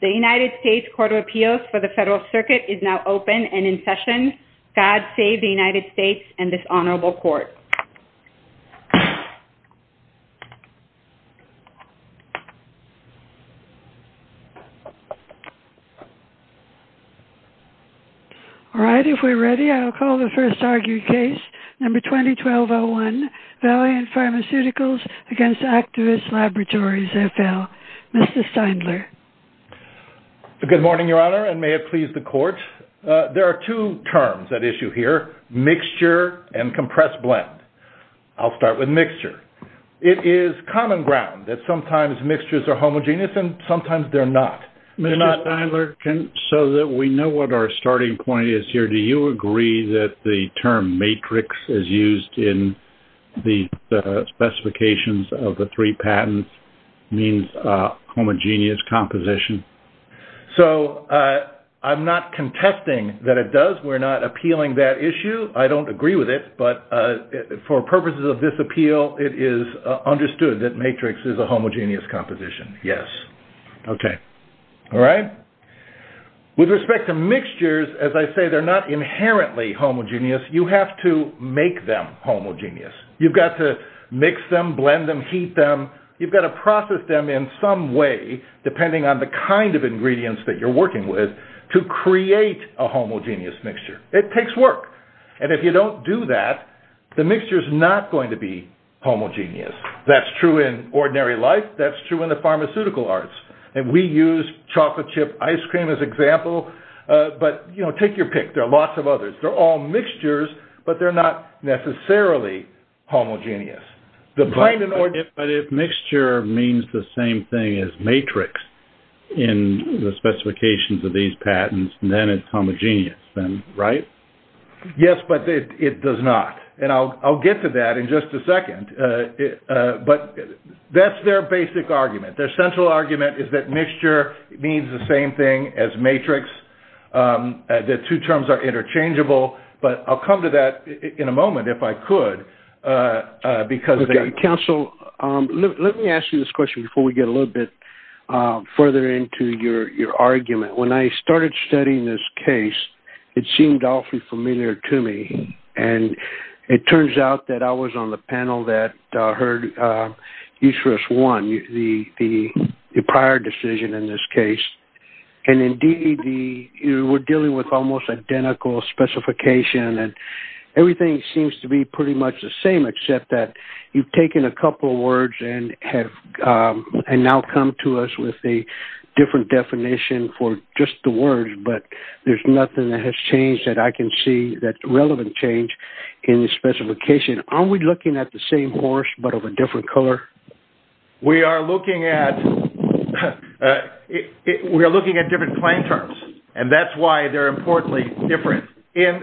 The United States Court of Appeals for the Federal Circuit is now open and in session. God save the United States and this Honorable Court. All right, if we're ready, I'll call the first argued case, number 2012-01, Valiant Pharmaceuticals v. Actavis Laboratories FL. Mr. Steindler. Good morning, Your Honor, and may it please the Court. There are two terms at issue here, mixture and compressed blend. I'll start with mixture. It is common ground that sometimes mixtures are homogeneous and sometimes they're not. Mr. Steindler, so that we know what our starting point is here, do you agree that the term matrix is used in the specifications of the three patents means homogeneous composition? So, I'm not contesting that it does. We're not appealing that issue. I don't agree with it, but for purposes of this appeal, it is understood that matrix is a homogeneous composition, yes. Okay, all right. With respect to mixtures, as I say, they're not inherently homogeneous. You have to make them homogeneous. You've got to mix them, blend them, heat them. You've got to process them in some way, depending on the kind of ingredients that you're working with, to create a homogeneous mixture. It takes work, and if you don't do that, the mixture is not going to be homogeneous. That's true in ordinary life. That's true in the pharmaceutical arts, and we use chocolate chip ice cream as example, but take your pick. There are lots of others. They're all mixtures, but they're not necessarily homogeneous. But if mixture means the same thing as matrix in the specifications of these patents, then it's homogeneous, right? Yes, but it does not, and I'll get to that in just a second, but that's their basic argument. Their central argument is that mixture means the same thing as matrix, that two terms are interchangeable, but I'll come to that in a moment, if I could. Counsel, let me ask you this question before we get a little bit further into your argument. When I started studying this case, it seemed awfully familiar to me, and it turns out that I was on the panel that heard Uterus One, the prior decision in this case, and indeed, we're dealing with almost identical specification, and everything seems to be pretty much the same, except that you've taken a couple of words and now come to us with a different definition for just the words, but there's nothing that has changed that I can see that's relevant change in the specification. Aren't we looking at the same horse, but of a different color? We are looking at different claim terms, and that's why they're importantly different. In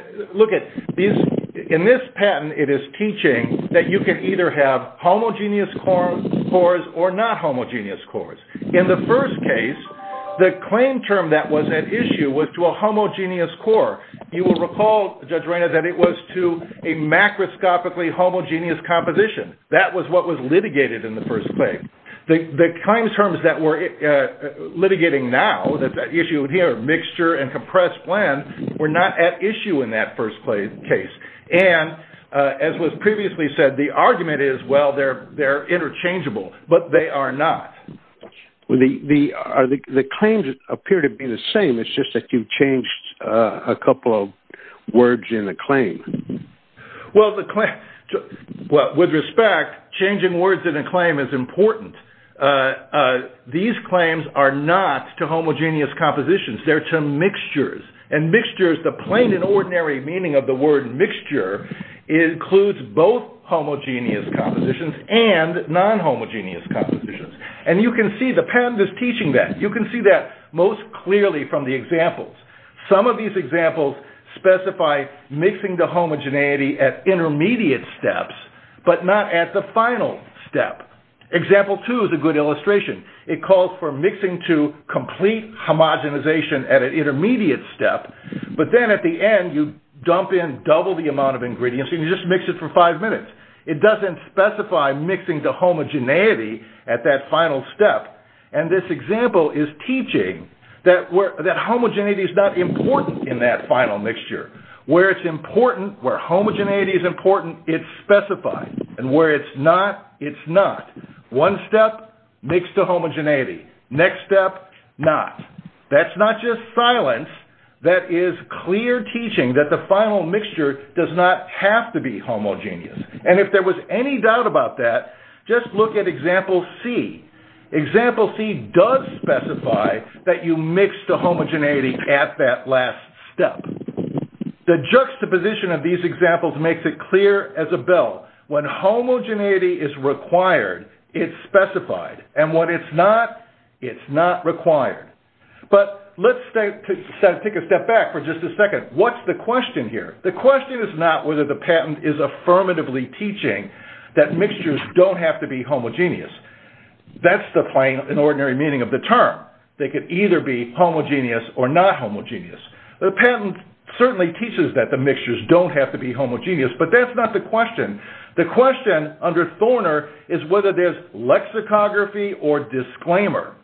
this patent, it is teaching that you can either have homogeneous cores or not homogeneous cores. In the first case, the claim term that was at issue was to a homogeneous core. You will recall, Judge Reyna, that it was to a macroscopically homogeneous composition. That was what was litigated in the first claim. The claim terms that we're litigating now, that issue here, mixture and compressed blend, were not at issue in that first case, and as was previously said, the argument is, well, they're interchangeable, but they are not. The claims appear to be the same. It's just that you've changed a couple of words in the claim. Well, with respect, changing words in a claim is important. These claims are not to homogeneous compositions. They're to mixtures, and mixtures, the plain and ordinary meaning of the word mixture, includes both homogeneous compositions and non-homogeneous compositions. You can see the patent is teaching that. You can see that most clearly from the examples. Some of these examples specify mixing to homogeneity at intermediate steps, but not at the final step. Example two is a good illustration. It calls for mixing to complete homogenization at an intermediate step, but then at the end, you dump in double the amount of ingredients and you just mix it for five minutes. It doesn't specify mixing to homogeneity at that final step, and this example is teaching that homogeneity is not important in that final mixture. Where it's important, where homogeneity is important, it's specified, and where it's not, it's not. One step, mix to homogeneity. Next step, not. That's not just silence. That is clear teaching that the final mixture does not have to be homogeneous. And if there was any doubt about that, just look at example C. Example C does specify that you mix to homogeneity at that last step. The juxtaposition of these examples makes it clear as a bell. When homogeneity is required, it's specified, and when it's not, it's not required. But let's take a step back for just a second. What's the question here? The question is not whether the patent is affirmatively teaching that mixtures don't have to be homogeneous. That's the plain and ordinary meaning of the term. They could either be homogeneous or not homogeneous. The patent certainly teaches that the mixtures don't have to be homogeneous, but that's not the question. The question under Thorner is whether there's lexicography or disclaimer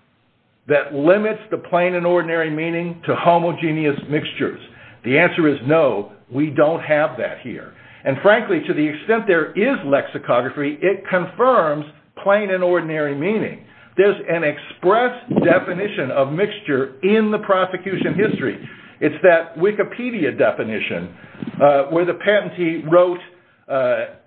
that limits the plain and ordinary meaning to homogeneous mixtures. The answer is no, we don't have that here. And frankly, to the extent there is lexicography, it confirms plain and ordinary meaning. There's an express definition of mixture in the prosecution history. It's that Wikipedia definition where the patentee wrote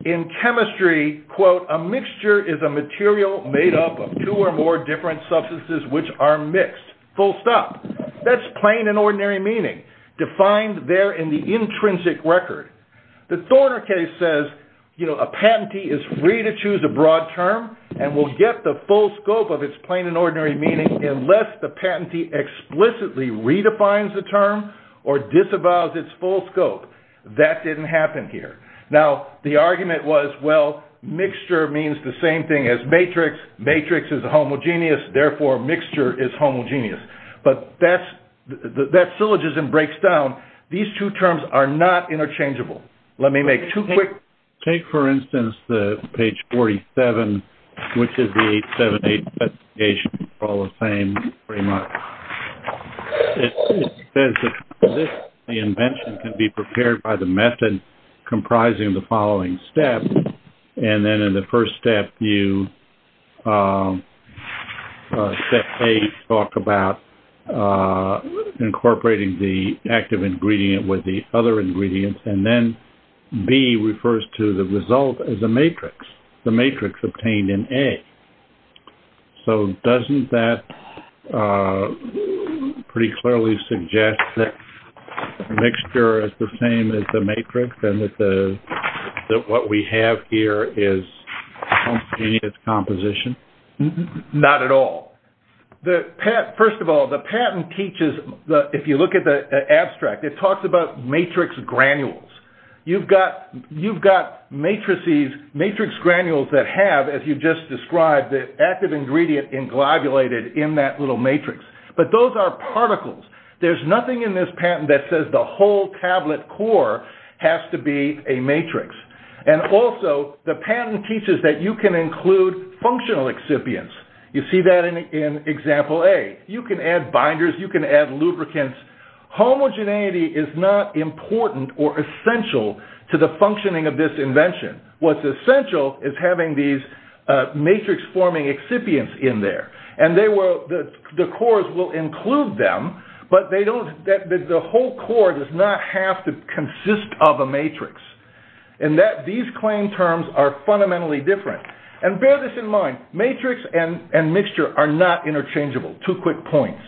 in chemistry, quote, a mixture is a material made up of two or more different substances which are mixed, full stop. That's plain and ordinary meaning defined there in the intrinsic record. The Thorner case says a patentee is free to choose a broad term and will get the full scope of its plain and ordinary meaning unless the patentee explicitly redefines the term or disavows its full scope. That didn't happen here. Now, the argument was, well, mixture means the same thing as matrix. Matrix is homogeneous, therefore mixture is homogeneous. But that syllogism breaks down. These two terms are not interchangeable. Let me make two quick... And then in the first step, you set A, talk about incorporating the active ingredient with the other ingredients, and then B refers to the result as a matrix. The matrix obtained in A. So doesn't that pretty clearly suggest that mixture is the same as the matrix and that what we have here is homogeneous composition? Not at all. First of all, the patent teaches, if you look at the abstract, it talks about matrix granules. You've got matrices, matrix granules that have, as you just described, the active ingredient englobulated in that little matrix. But those are particles. There's nothing in this patent that says the whole tablet core has to be a matrix. And also, the patent teaches that you can include functional excipients. You see that in example A. You can add binders, you can add lubricants. Homogeneity is not important or essential to the functioning of this invention. What's essential is having these matrix-forming excipients in there. And the cores will include them, but the whole core does not have to consist of a matrix. And these claim terms are fundamentally different. And bear this in mind, matrix and mixture are not interchangeable. Two quick points.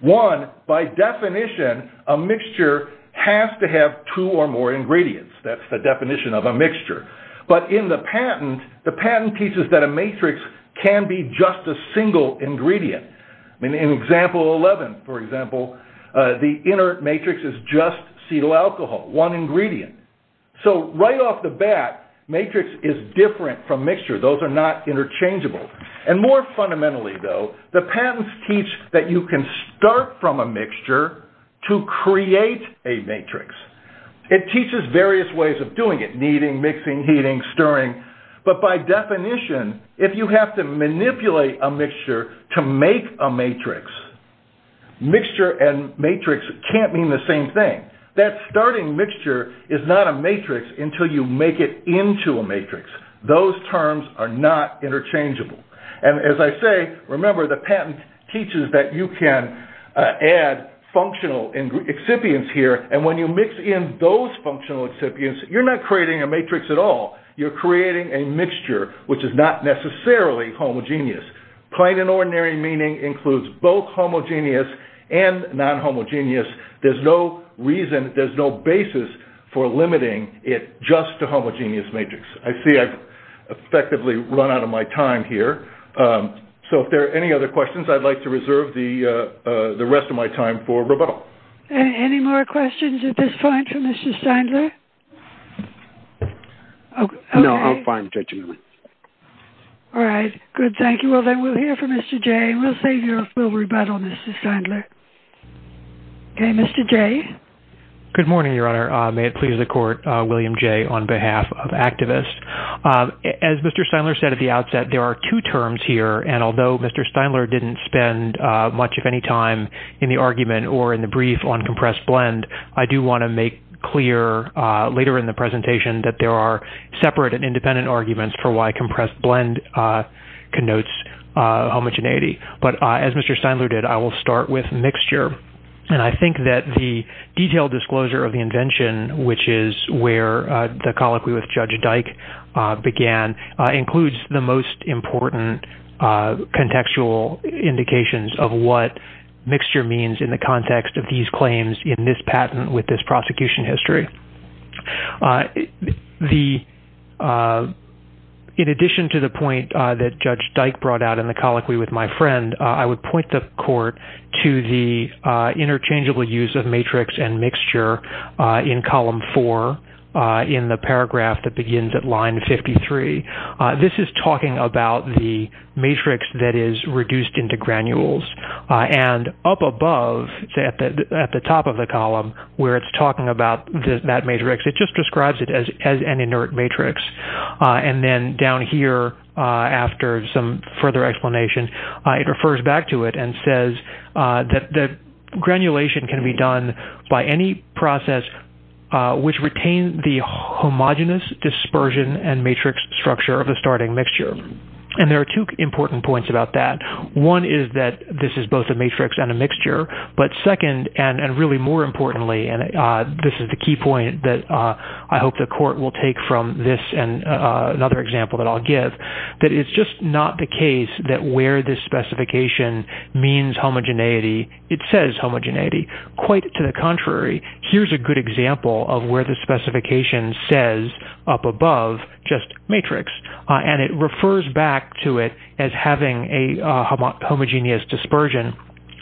One, by definition, a mixture has to have two or more ingredients. That's the definition of a mixture. But in the patent, the patent teaches that a matrix can be just a single ingredient. In example 11, for example, the inner matrix is just acetyl alcohol, one ingredient. So right off the bat, matrix is different from mixture. Those are not interchangeable. And more fundamentally, though, the patents teach that you can start from a mixture to create a matrix. It teaches various ways of doing it. Kneading, mixing, heating, stirring. But by definition, if you have to manipulate a mixture to make a matrix, mixture and matrix can't mean the same thing. That starting mixture is not a matrix until you make it into a matrix. Those terms are not interchangeable. And as I say, remember, the patent teaches that you can add functional excipients here. And when you mix in those functional excipients, you're not creating a matrix at all. You're creating a mixture, which is not necessarily homogeneous. Plain and ordinary meaning includes both homogeneous and non-homogeneous. There's no reason, there's no basis for limiting it just to homogeneous matrix. I see I've effectively run out of my time here. So if there are any other questions, I'd like to reserve the rest of my time for Roberto. Any more questions at this point for Mr. Steindler? No, I'm fine. All right. Good. Thank you. Well, then we'll hear from Mr. J. We'll save you a full rebuttal, Mr. Steindler. Okay, Mr. J. or in the brief on compressed blend, I do want to make clear later in the presentation that there are separate and independent arguments for why compressed blend connotes homogeneity. But as Mr. Steindler did, I will start with mixture. And I think that the detailed disclosure of the invention, which is where the colloquy with Judge Dyke began, includes the most important contextual indications of what mixture means in the context of these claims in this patent with this prosecution history. In addition to the point that Judge Dyke brought out in the colloquy with my friend, I would point the court to the interchangeable use of matrix and mixture in column four in the paragraph that begins at line 53. This is talking about the matrix that is reduced into granules. And up above, at the top of the column where it's talking about that matrix, it just describes it as an inert matrix. And then down here, after some further explanation, it refers back to it and says that granulation can be done by any process which retains the homogenous dispersion and matrix structure of the starting mixture. And there are two important points about that. One is that this is both a matrix and a mixture. But second, and really more importantly, and this is the key point that I hope the court will take from this and another example that I'll give, that it's just not the case that where this specification means homogeneity, it says homogeneity. Quite to the contrary, here's a good example of where the specification says up above just matrix. And it refers back to it as having a homogeneous dispersion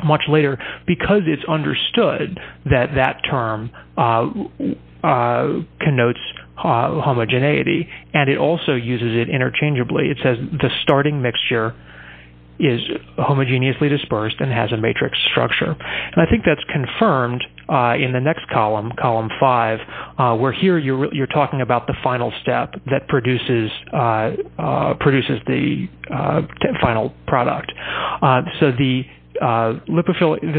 much later because it's understood that that term connotes homogeneity. And it also uses it interchangeably. It says the starting mixture is homogeneously dispersed and has a matrix structure. And I think that's confirmed in the next column, column five, where here you're talking about the final step that produces the final product. This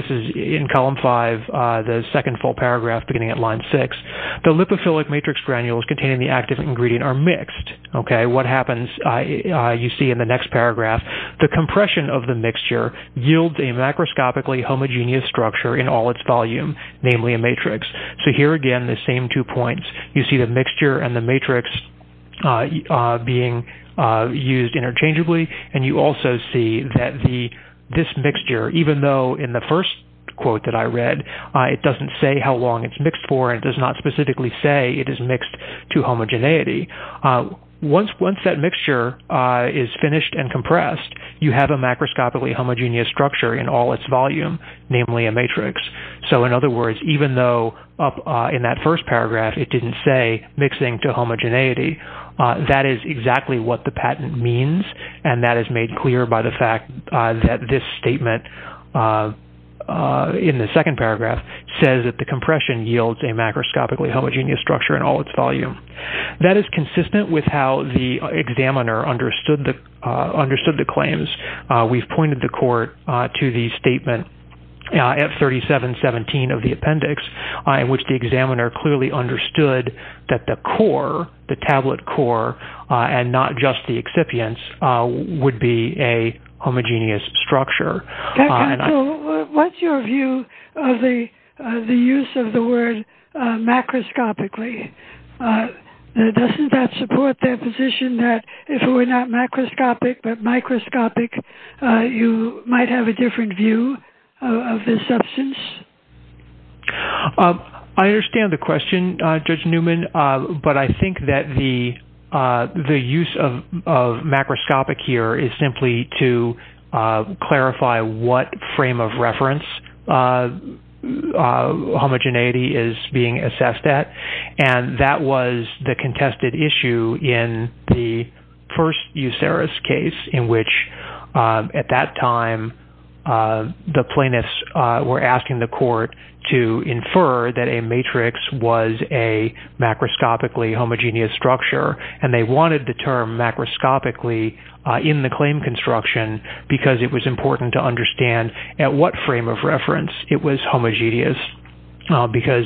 is in column five, the second full paragraph beginning at line six. The lipophilic matrix granules containing the active ingredient are mixed. What happens, you see in the next paragraph, the compression of the mixture yields a macroscopically homogeneous structure in all its volume, namely a matrix. So here again, the same two points. You see the mixture and the matrix being used interchangeably. And you also see that this mixture, even though in the first quote that I read, it doesn't say how long it's mixed for, it does not specifically say it is mixed to homogeneity. Once that mixture is finished and compressed, you have a macroscopically homogeneous structure in all its volume, namely a matrix. So in other words, even though in that first paragraph, it didn't say mixing to homogeneity, that is exactly what the patent means. And that is made clear by the fact that this statement in the second paragraph says that the compression yields a macroscopically homogeneous structure in all its volume. That is consistent with how the examiner understood the claims. We've pointed the court to the statement at 3717 of the appendix in which the examiner clearly understood that the core, the tablet core, and not just the excipients, would be a homogeneous structure. So what's your view of the use of the word macroscopically? Doesn't that support the position that if it were not macroscopic, but microscopic, you might have a different view of this substance? I understand the question, Judge Newman, but I think that the use of macroscopic here is simply to clarify what frame of reference homogeneity is being assessed at. And that was the contested issue in the first Euceris case in which, at that time, the plaintiffs were asking the court to infer that a matrix was a macroscopically homogeneous structure. And they wanted the term macroscopically in the claim construction because it was important to understand at what frame of reference it was homogeneous because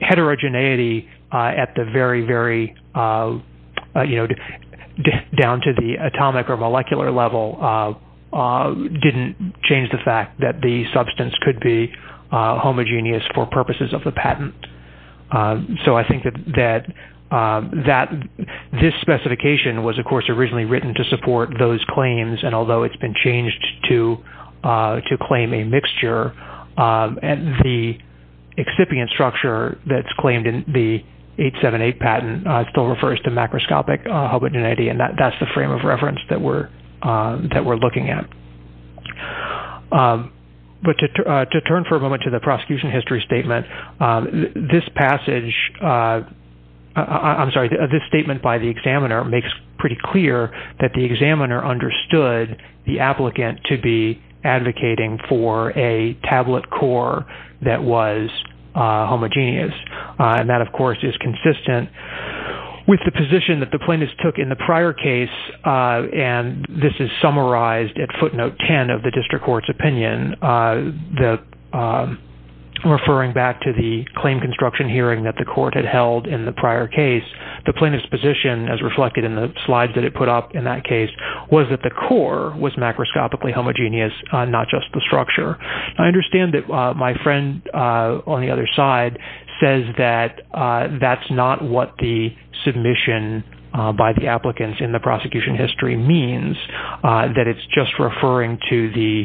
heterogeneity down to the atomic or molecular level didn't change the fact that the substance could be homogeneous for purposes of the patent. So I think that this specification was, of course, originally written to support those claims, and although it's been changed to claim a mixture, and the excipient structure that's claimed in the 878 patent still refers to macroscopic homogeneity, and that's the frame of reference that we're looking at. But to turn for a moment to the prosecution history statement, this statement by the examiner makes pretty clear that the examiner understood the applicant to be advocating for a tablet core that was homogeneous. And that, of course, is consistent with the position that the plaintiffs took in the prior case, and this is summarized at footnote 10 of the district court's opinion, referring back to the claim construction hearing that the court had held in the prior case. The plaintiff's position, as reflected in the slides that it put up in that case, was that the core was macroscopically homogeneous, not just the structure. I understand that my friend on the other side says that that's not what the submission by the applicants in the prosecution history means, that it's just referring to the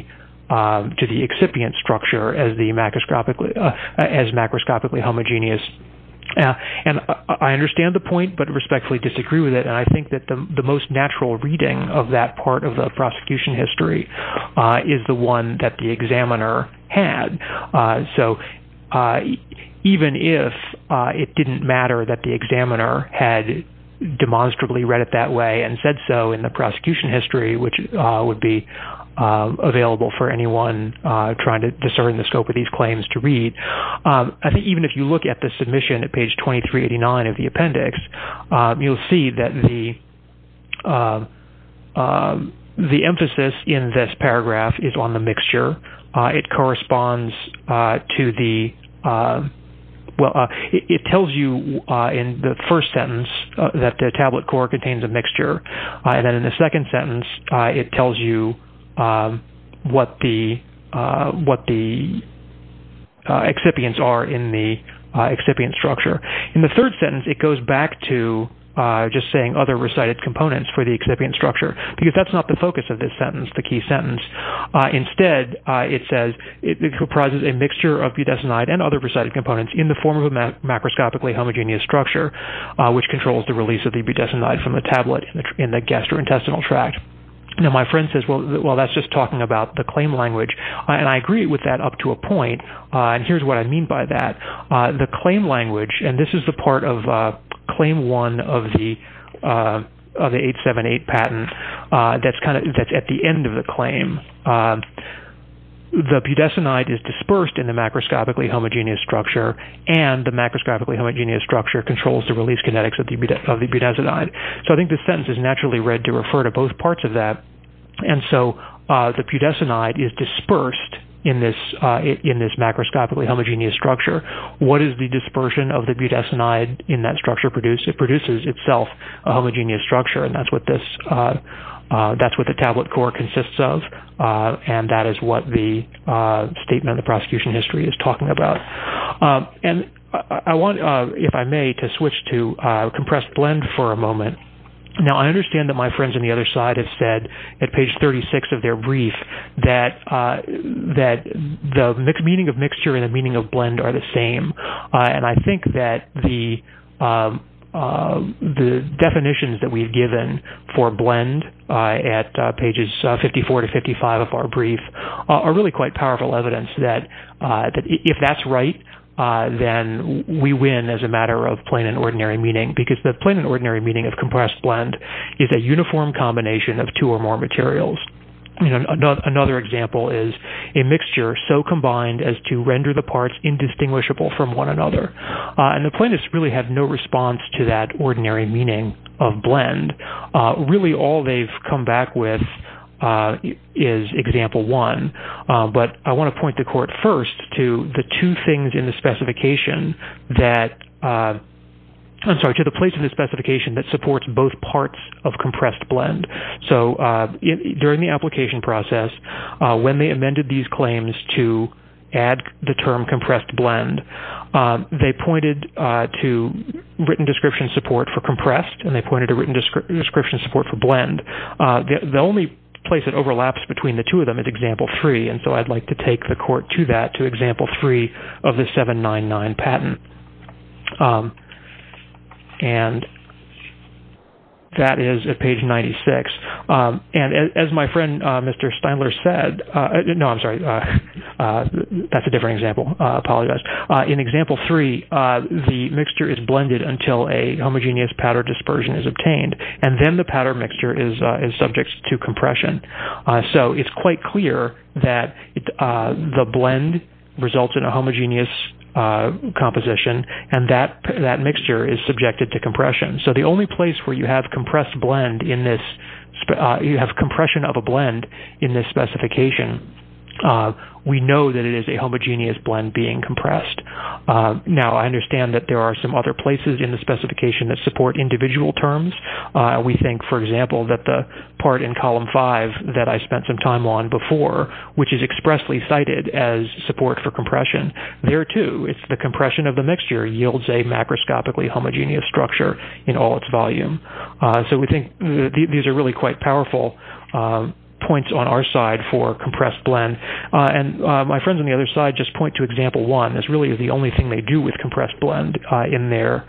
excipient structure as macroscopically homogeneous. And I understand the point, but respectfully disagree with it, and I think that the most natural reading of that part of the prosecution history is the one that the examiner had. So even if it didn't matter that the examiner had demonstrably read it that way and said so in the prosecution history, which would be available for anyone trying to discern the scope of these claims to read, I think even if you look at the submission at page 2389 of the appendix, you'll see that the emphasis in this paragraph is on the mixture. It tells you in the first sentence that the tablet core contains a mixture, and then in the second sentence it tells you what the excipients are in the excipient structure. In the third sentence it goes back to just saying other recited components for the excipient structure, because that's not the focus of this sentence, the key sentence. Instead, it says it comprises a mixture of budesonide and other recited components in the form of a macroscopically homogeneous structure, which controls the release of the budesonide from the tablet in the gastrointestinal tract. Now, my friend says, well, that's just talking about the claim language, and I agree with that up to a point, and here's what I mean by that. The claim language, and this is the part of claim one of the 878 patent that's at the end of the claim. The budesonide is dispersed in the macroscopically homogeneous structure, and the macroscopically homogeneous structure controls the release kinetics of the budesonide. So I think this sentence is naturally read to refer to both parts of that, and so the budesonide is dispersed in this macroscopically homogeneous structure. What does the dispersion of the budesonide in that structure produce? It produces itself a homogeneous structure, and that's what the tablet core consists of, and that is what the statement of the prosecution history is talking about. And I want, if I may, to switch to compressed blend for a moment. Now, I understand that my friends on the other side have said at page 36 of their brief that the meaning of mixture and the meaning of blend are the same, and I think that the definitions that we've given for blend at pages 54 to 55 of our brief are really quite powerful evidence that if that's right, then we win as a matter of plain and ordinary meaning, because the plain and ordinary meaning of compressed blend is a uniform combination of two or more materials. Another example is a mixture so combined as to render the parts indistinguishable from one another, and the plaintiffs really have no response to that ordinary meaning of blend. Really, all they've come back with is example one, but I want to point the court first to the two things in the specification that, I'm sorry, to the place in the specification that supports both parts of compressed blend. So, during the application process, when they amended these claims to add the term compressed blend, they pointed to written description support for compressed, and they pointed to written description support for blend. The only place it overlaps between the two of them is example three, and so I'd like to take the court to that, to example three of the 799 patent. And that is at page 96, and as my friend Mr. Steinler said, no, I'm sorry, that's a different example, I apologize. In example three, the mixture is blended until a homogeneous powder dispersion is obtained, and then the powder mixture is subject to compression. So, it's quite clear that the blend results in a homogeneous composition, and that mixture is subjected to compression. So, the only place where you have compressed blend in this, you have compression of a blend in this specification, we know that it is a homogeneous blend being compressed. Now, I understand that there are some other places in the specification that support individual terms. We think, for example, that the part in column five that I spent some time on before, which is expressly cited as support for compression, there too, it's the compression of the mixture yields a macroscopically homogeneous structure in all its volume. So, we think these are really quite powerful points on our side for compressed blend. And my friends on the other side just point to example one as really the only thing they do with compressed blend in their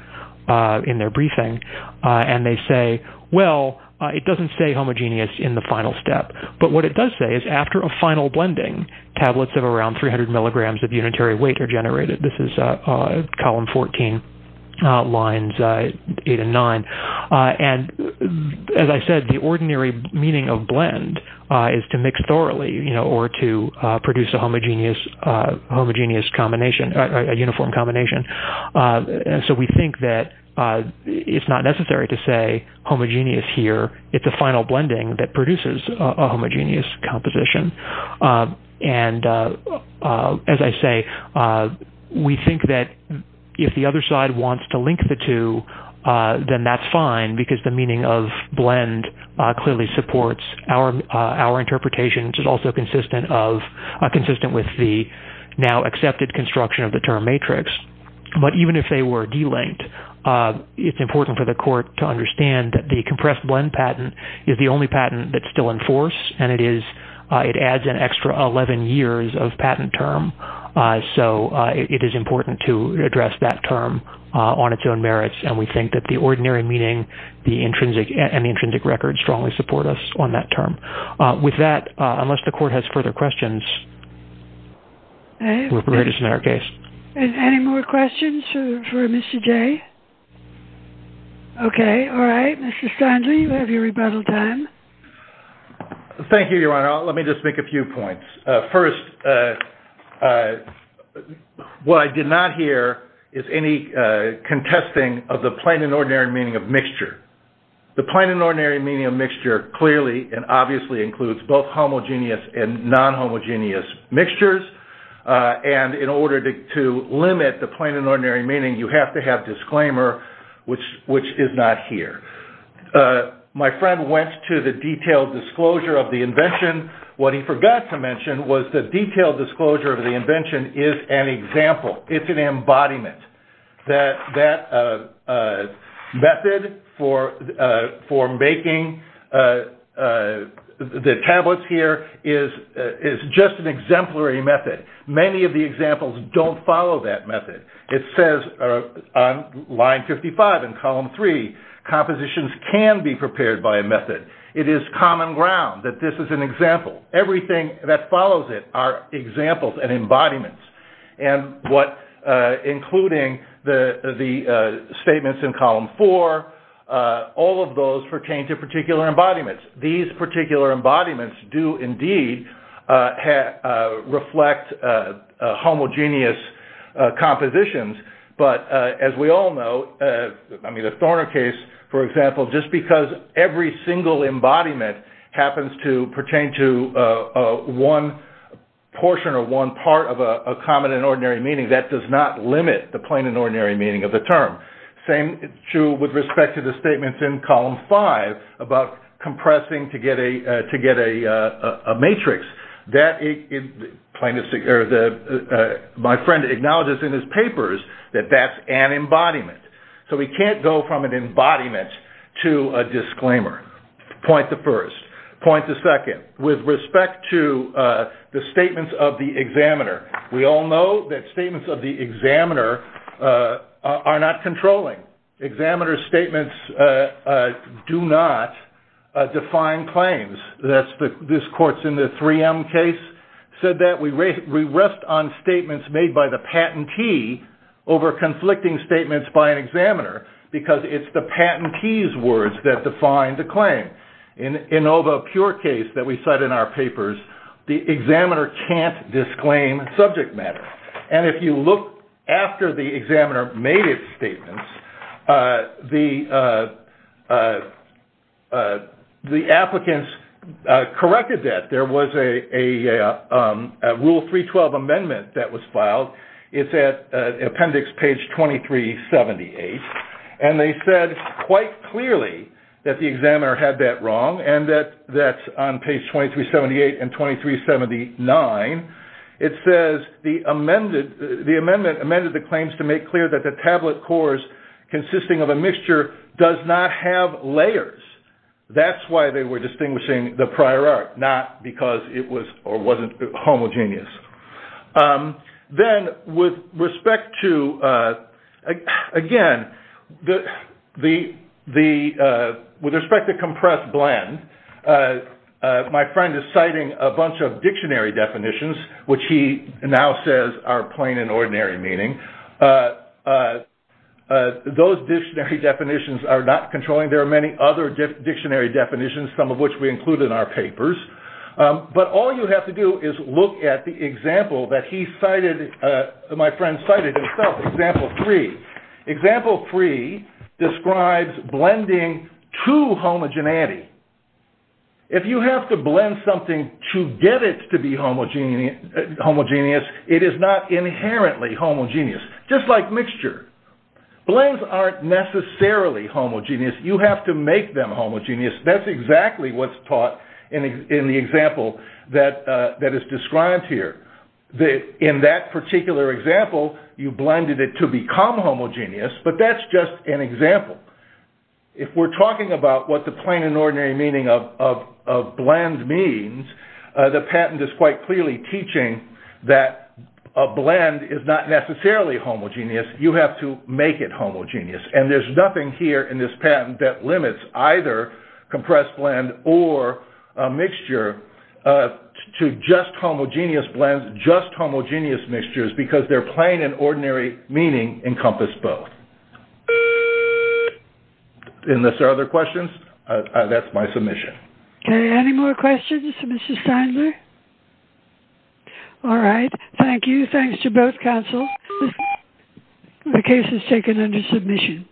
briefing, and they say, well, it doesn't stay homogeneous in the final step. But what it does say is after a final blending, tablets of around 300 milligrams of unitary weight are generated. This is column 14, lines eight and nine. And as I said, the ordinary meaning of blend is to mix thoroughly, you know, or to produce a homogeneous combination, a uniform combination. And so we think that it's not necessary to say homogeneous here, it's a final blending that produces a homogeneous composition. And as I say, we think that if the other side wants to link the two, then that's fine because the meaning of blend clearly supports our interpretation, which is also consistent with the now accepted construction of the term matrix. But even if they were delinked, it's important for the court to understand that the compressed blend patent is the only patent that's still in force, and it adds an extra 11 years of patent term. So, it is important to address that term on its own merits. And we think that the ordinary meaning and the intrinsic record strongly support us on that term. With that, unless the court has further questions, we're ready to submit our case. And any more questions for Mr. Jay? Okay, all right. Mr. Stanley, you have your rebuttal time. Thank you, Your Honor. Let me just make a few points. First, what I did not hear is any contesting of the plain and ordinary meaning of mixture. The plain and ordinary meaning of mixture clearly and obviously includes both homogeneous and non-homogeneous mixtures. And in order to limit the plain and ordinary meaning, you have to have disclaimer, which is not here. My friend went to the detailed disclosure of the invention. What he forgot to mention was the detailed disclosure of the invention is an example. It's an embodiment. That method for making the tablets here is just an exemplary method. Many of the examples don't follow that method. It says on line 55 in column 3, compositions can be prepared by a method. It is common ground that this is an example. Everything that follows it are examples and embodiments. Including the statements in column 4, all of those pertain to particular embodiments. These particular embodiments do indeed reflect homogeneous compositions. As we all know, the Thorner case, for example, just because every single embodiment happens to pertain to one portion or one part of a common and ordinary meaning, that does not limit the plain and ordinary meaning of the term. Same is true with respect to the statements in column 5 about compressing to get a matrix. My friend acknowledges in his papers that that's an embodiment. We can't go from an embodiment to a disclaimer. Point to first. Point to second. With respect to the statements of the examiner, we all know that statements of the examiner are not controlling. Examiner's statements do not define claims. This court's in the 3M case said that. We rest on statements made by the patentee over conflicting statements by an examiner because it's the patentee's words that define the claim. In the Inova Pure case that we cite in our papers, the examiner can't disclaim subject matter. If you look after the examiner made his statements, the applicants corrected that. There was a Rule 312 amendment that was filed. It's at appendix page 2378. They said quite clearly that the examiner had that wrong and that's on page 2378 and 2379. It says the amendment amended the claims to make clear that the tablet cores consisting of a mixture does not have layers. That's why they were distinguishing the prior art, not because it was or wasn't homogeneous. With respect to compressed blend, my friend is citing a bunch of dictionary definitions, which he now says are plain and ordinary meaning. Those dictionary definitions are not controlling. There are many other dictionary definitions, some of which we include in our papers. All you have to do is look at the example that my friend cited himself, example 3. Example 3 describes blending to homogeneity. If you have to blend something to get it to be homogeneous, it is not inherently homogeneous, just like mixture. Blends aren't necessarily homogeneous. You have to make them homogeneous. That's exactly what's taught in the example that is described here. In that particular example, you blended it to become homogeneous, but that's just an example. If we're talking about what the plain and ordinary meaning of blend means, the patent is quite clearly teaching that a blend is not necessarily homogeneous. You have to make it homogeneous. There's nothing here in this patent that limits either compressed blend or mixture to just homogeneous blends, just homogeneous mixtures, because their plain and ordinary meaning encompass both. Unless there are other questions, that's my submission. Any more questions, Mrs. Feindler? All right, thank you. Thanks to both counsels. The case is taken under submission.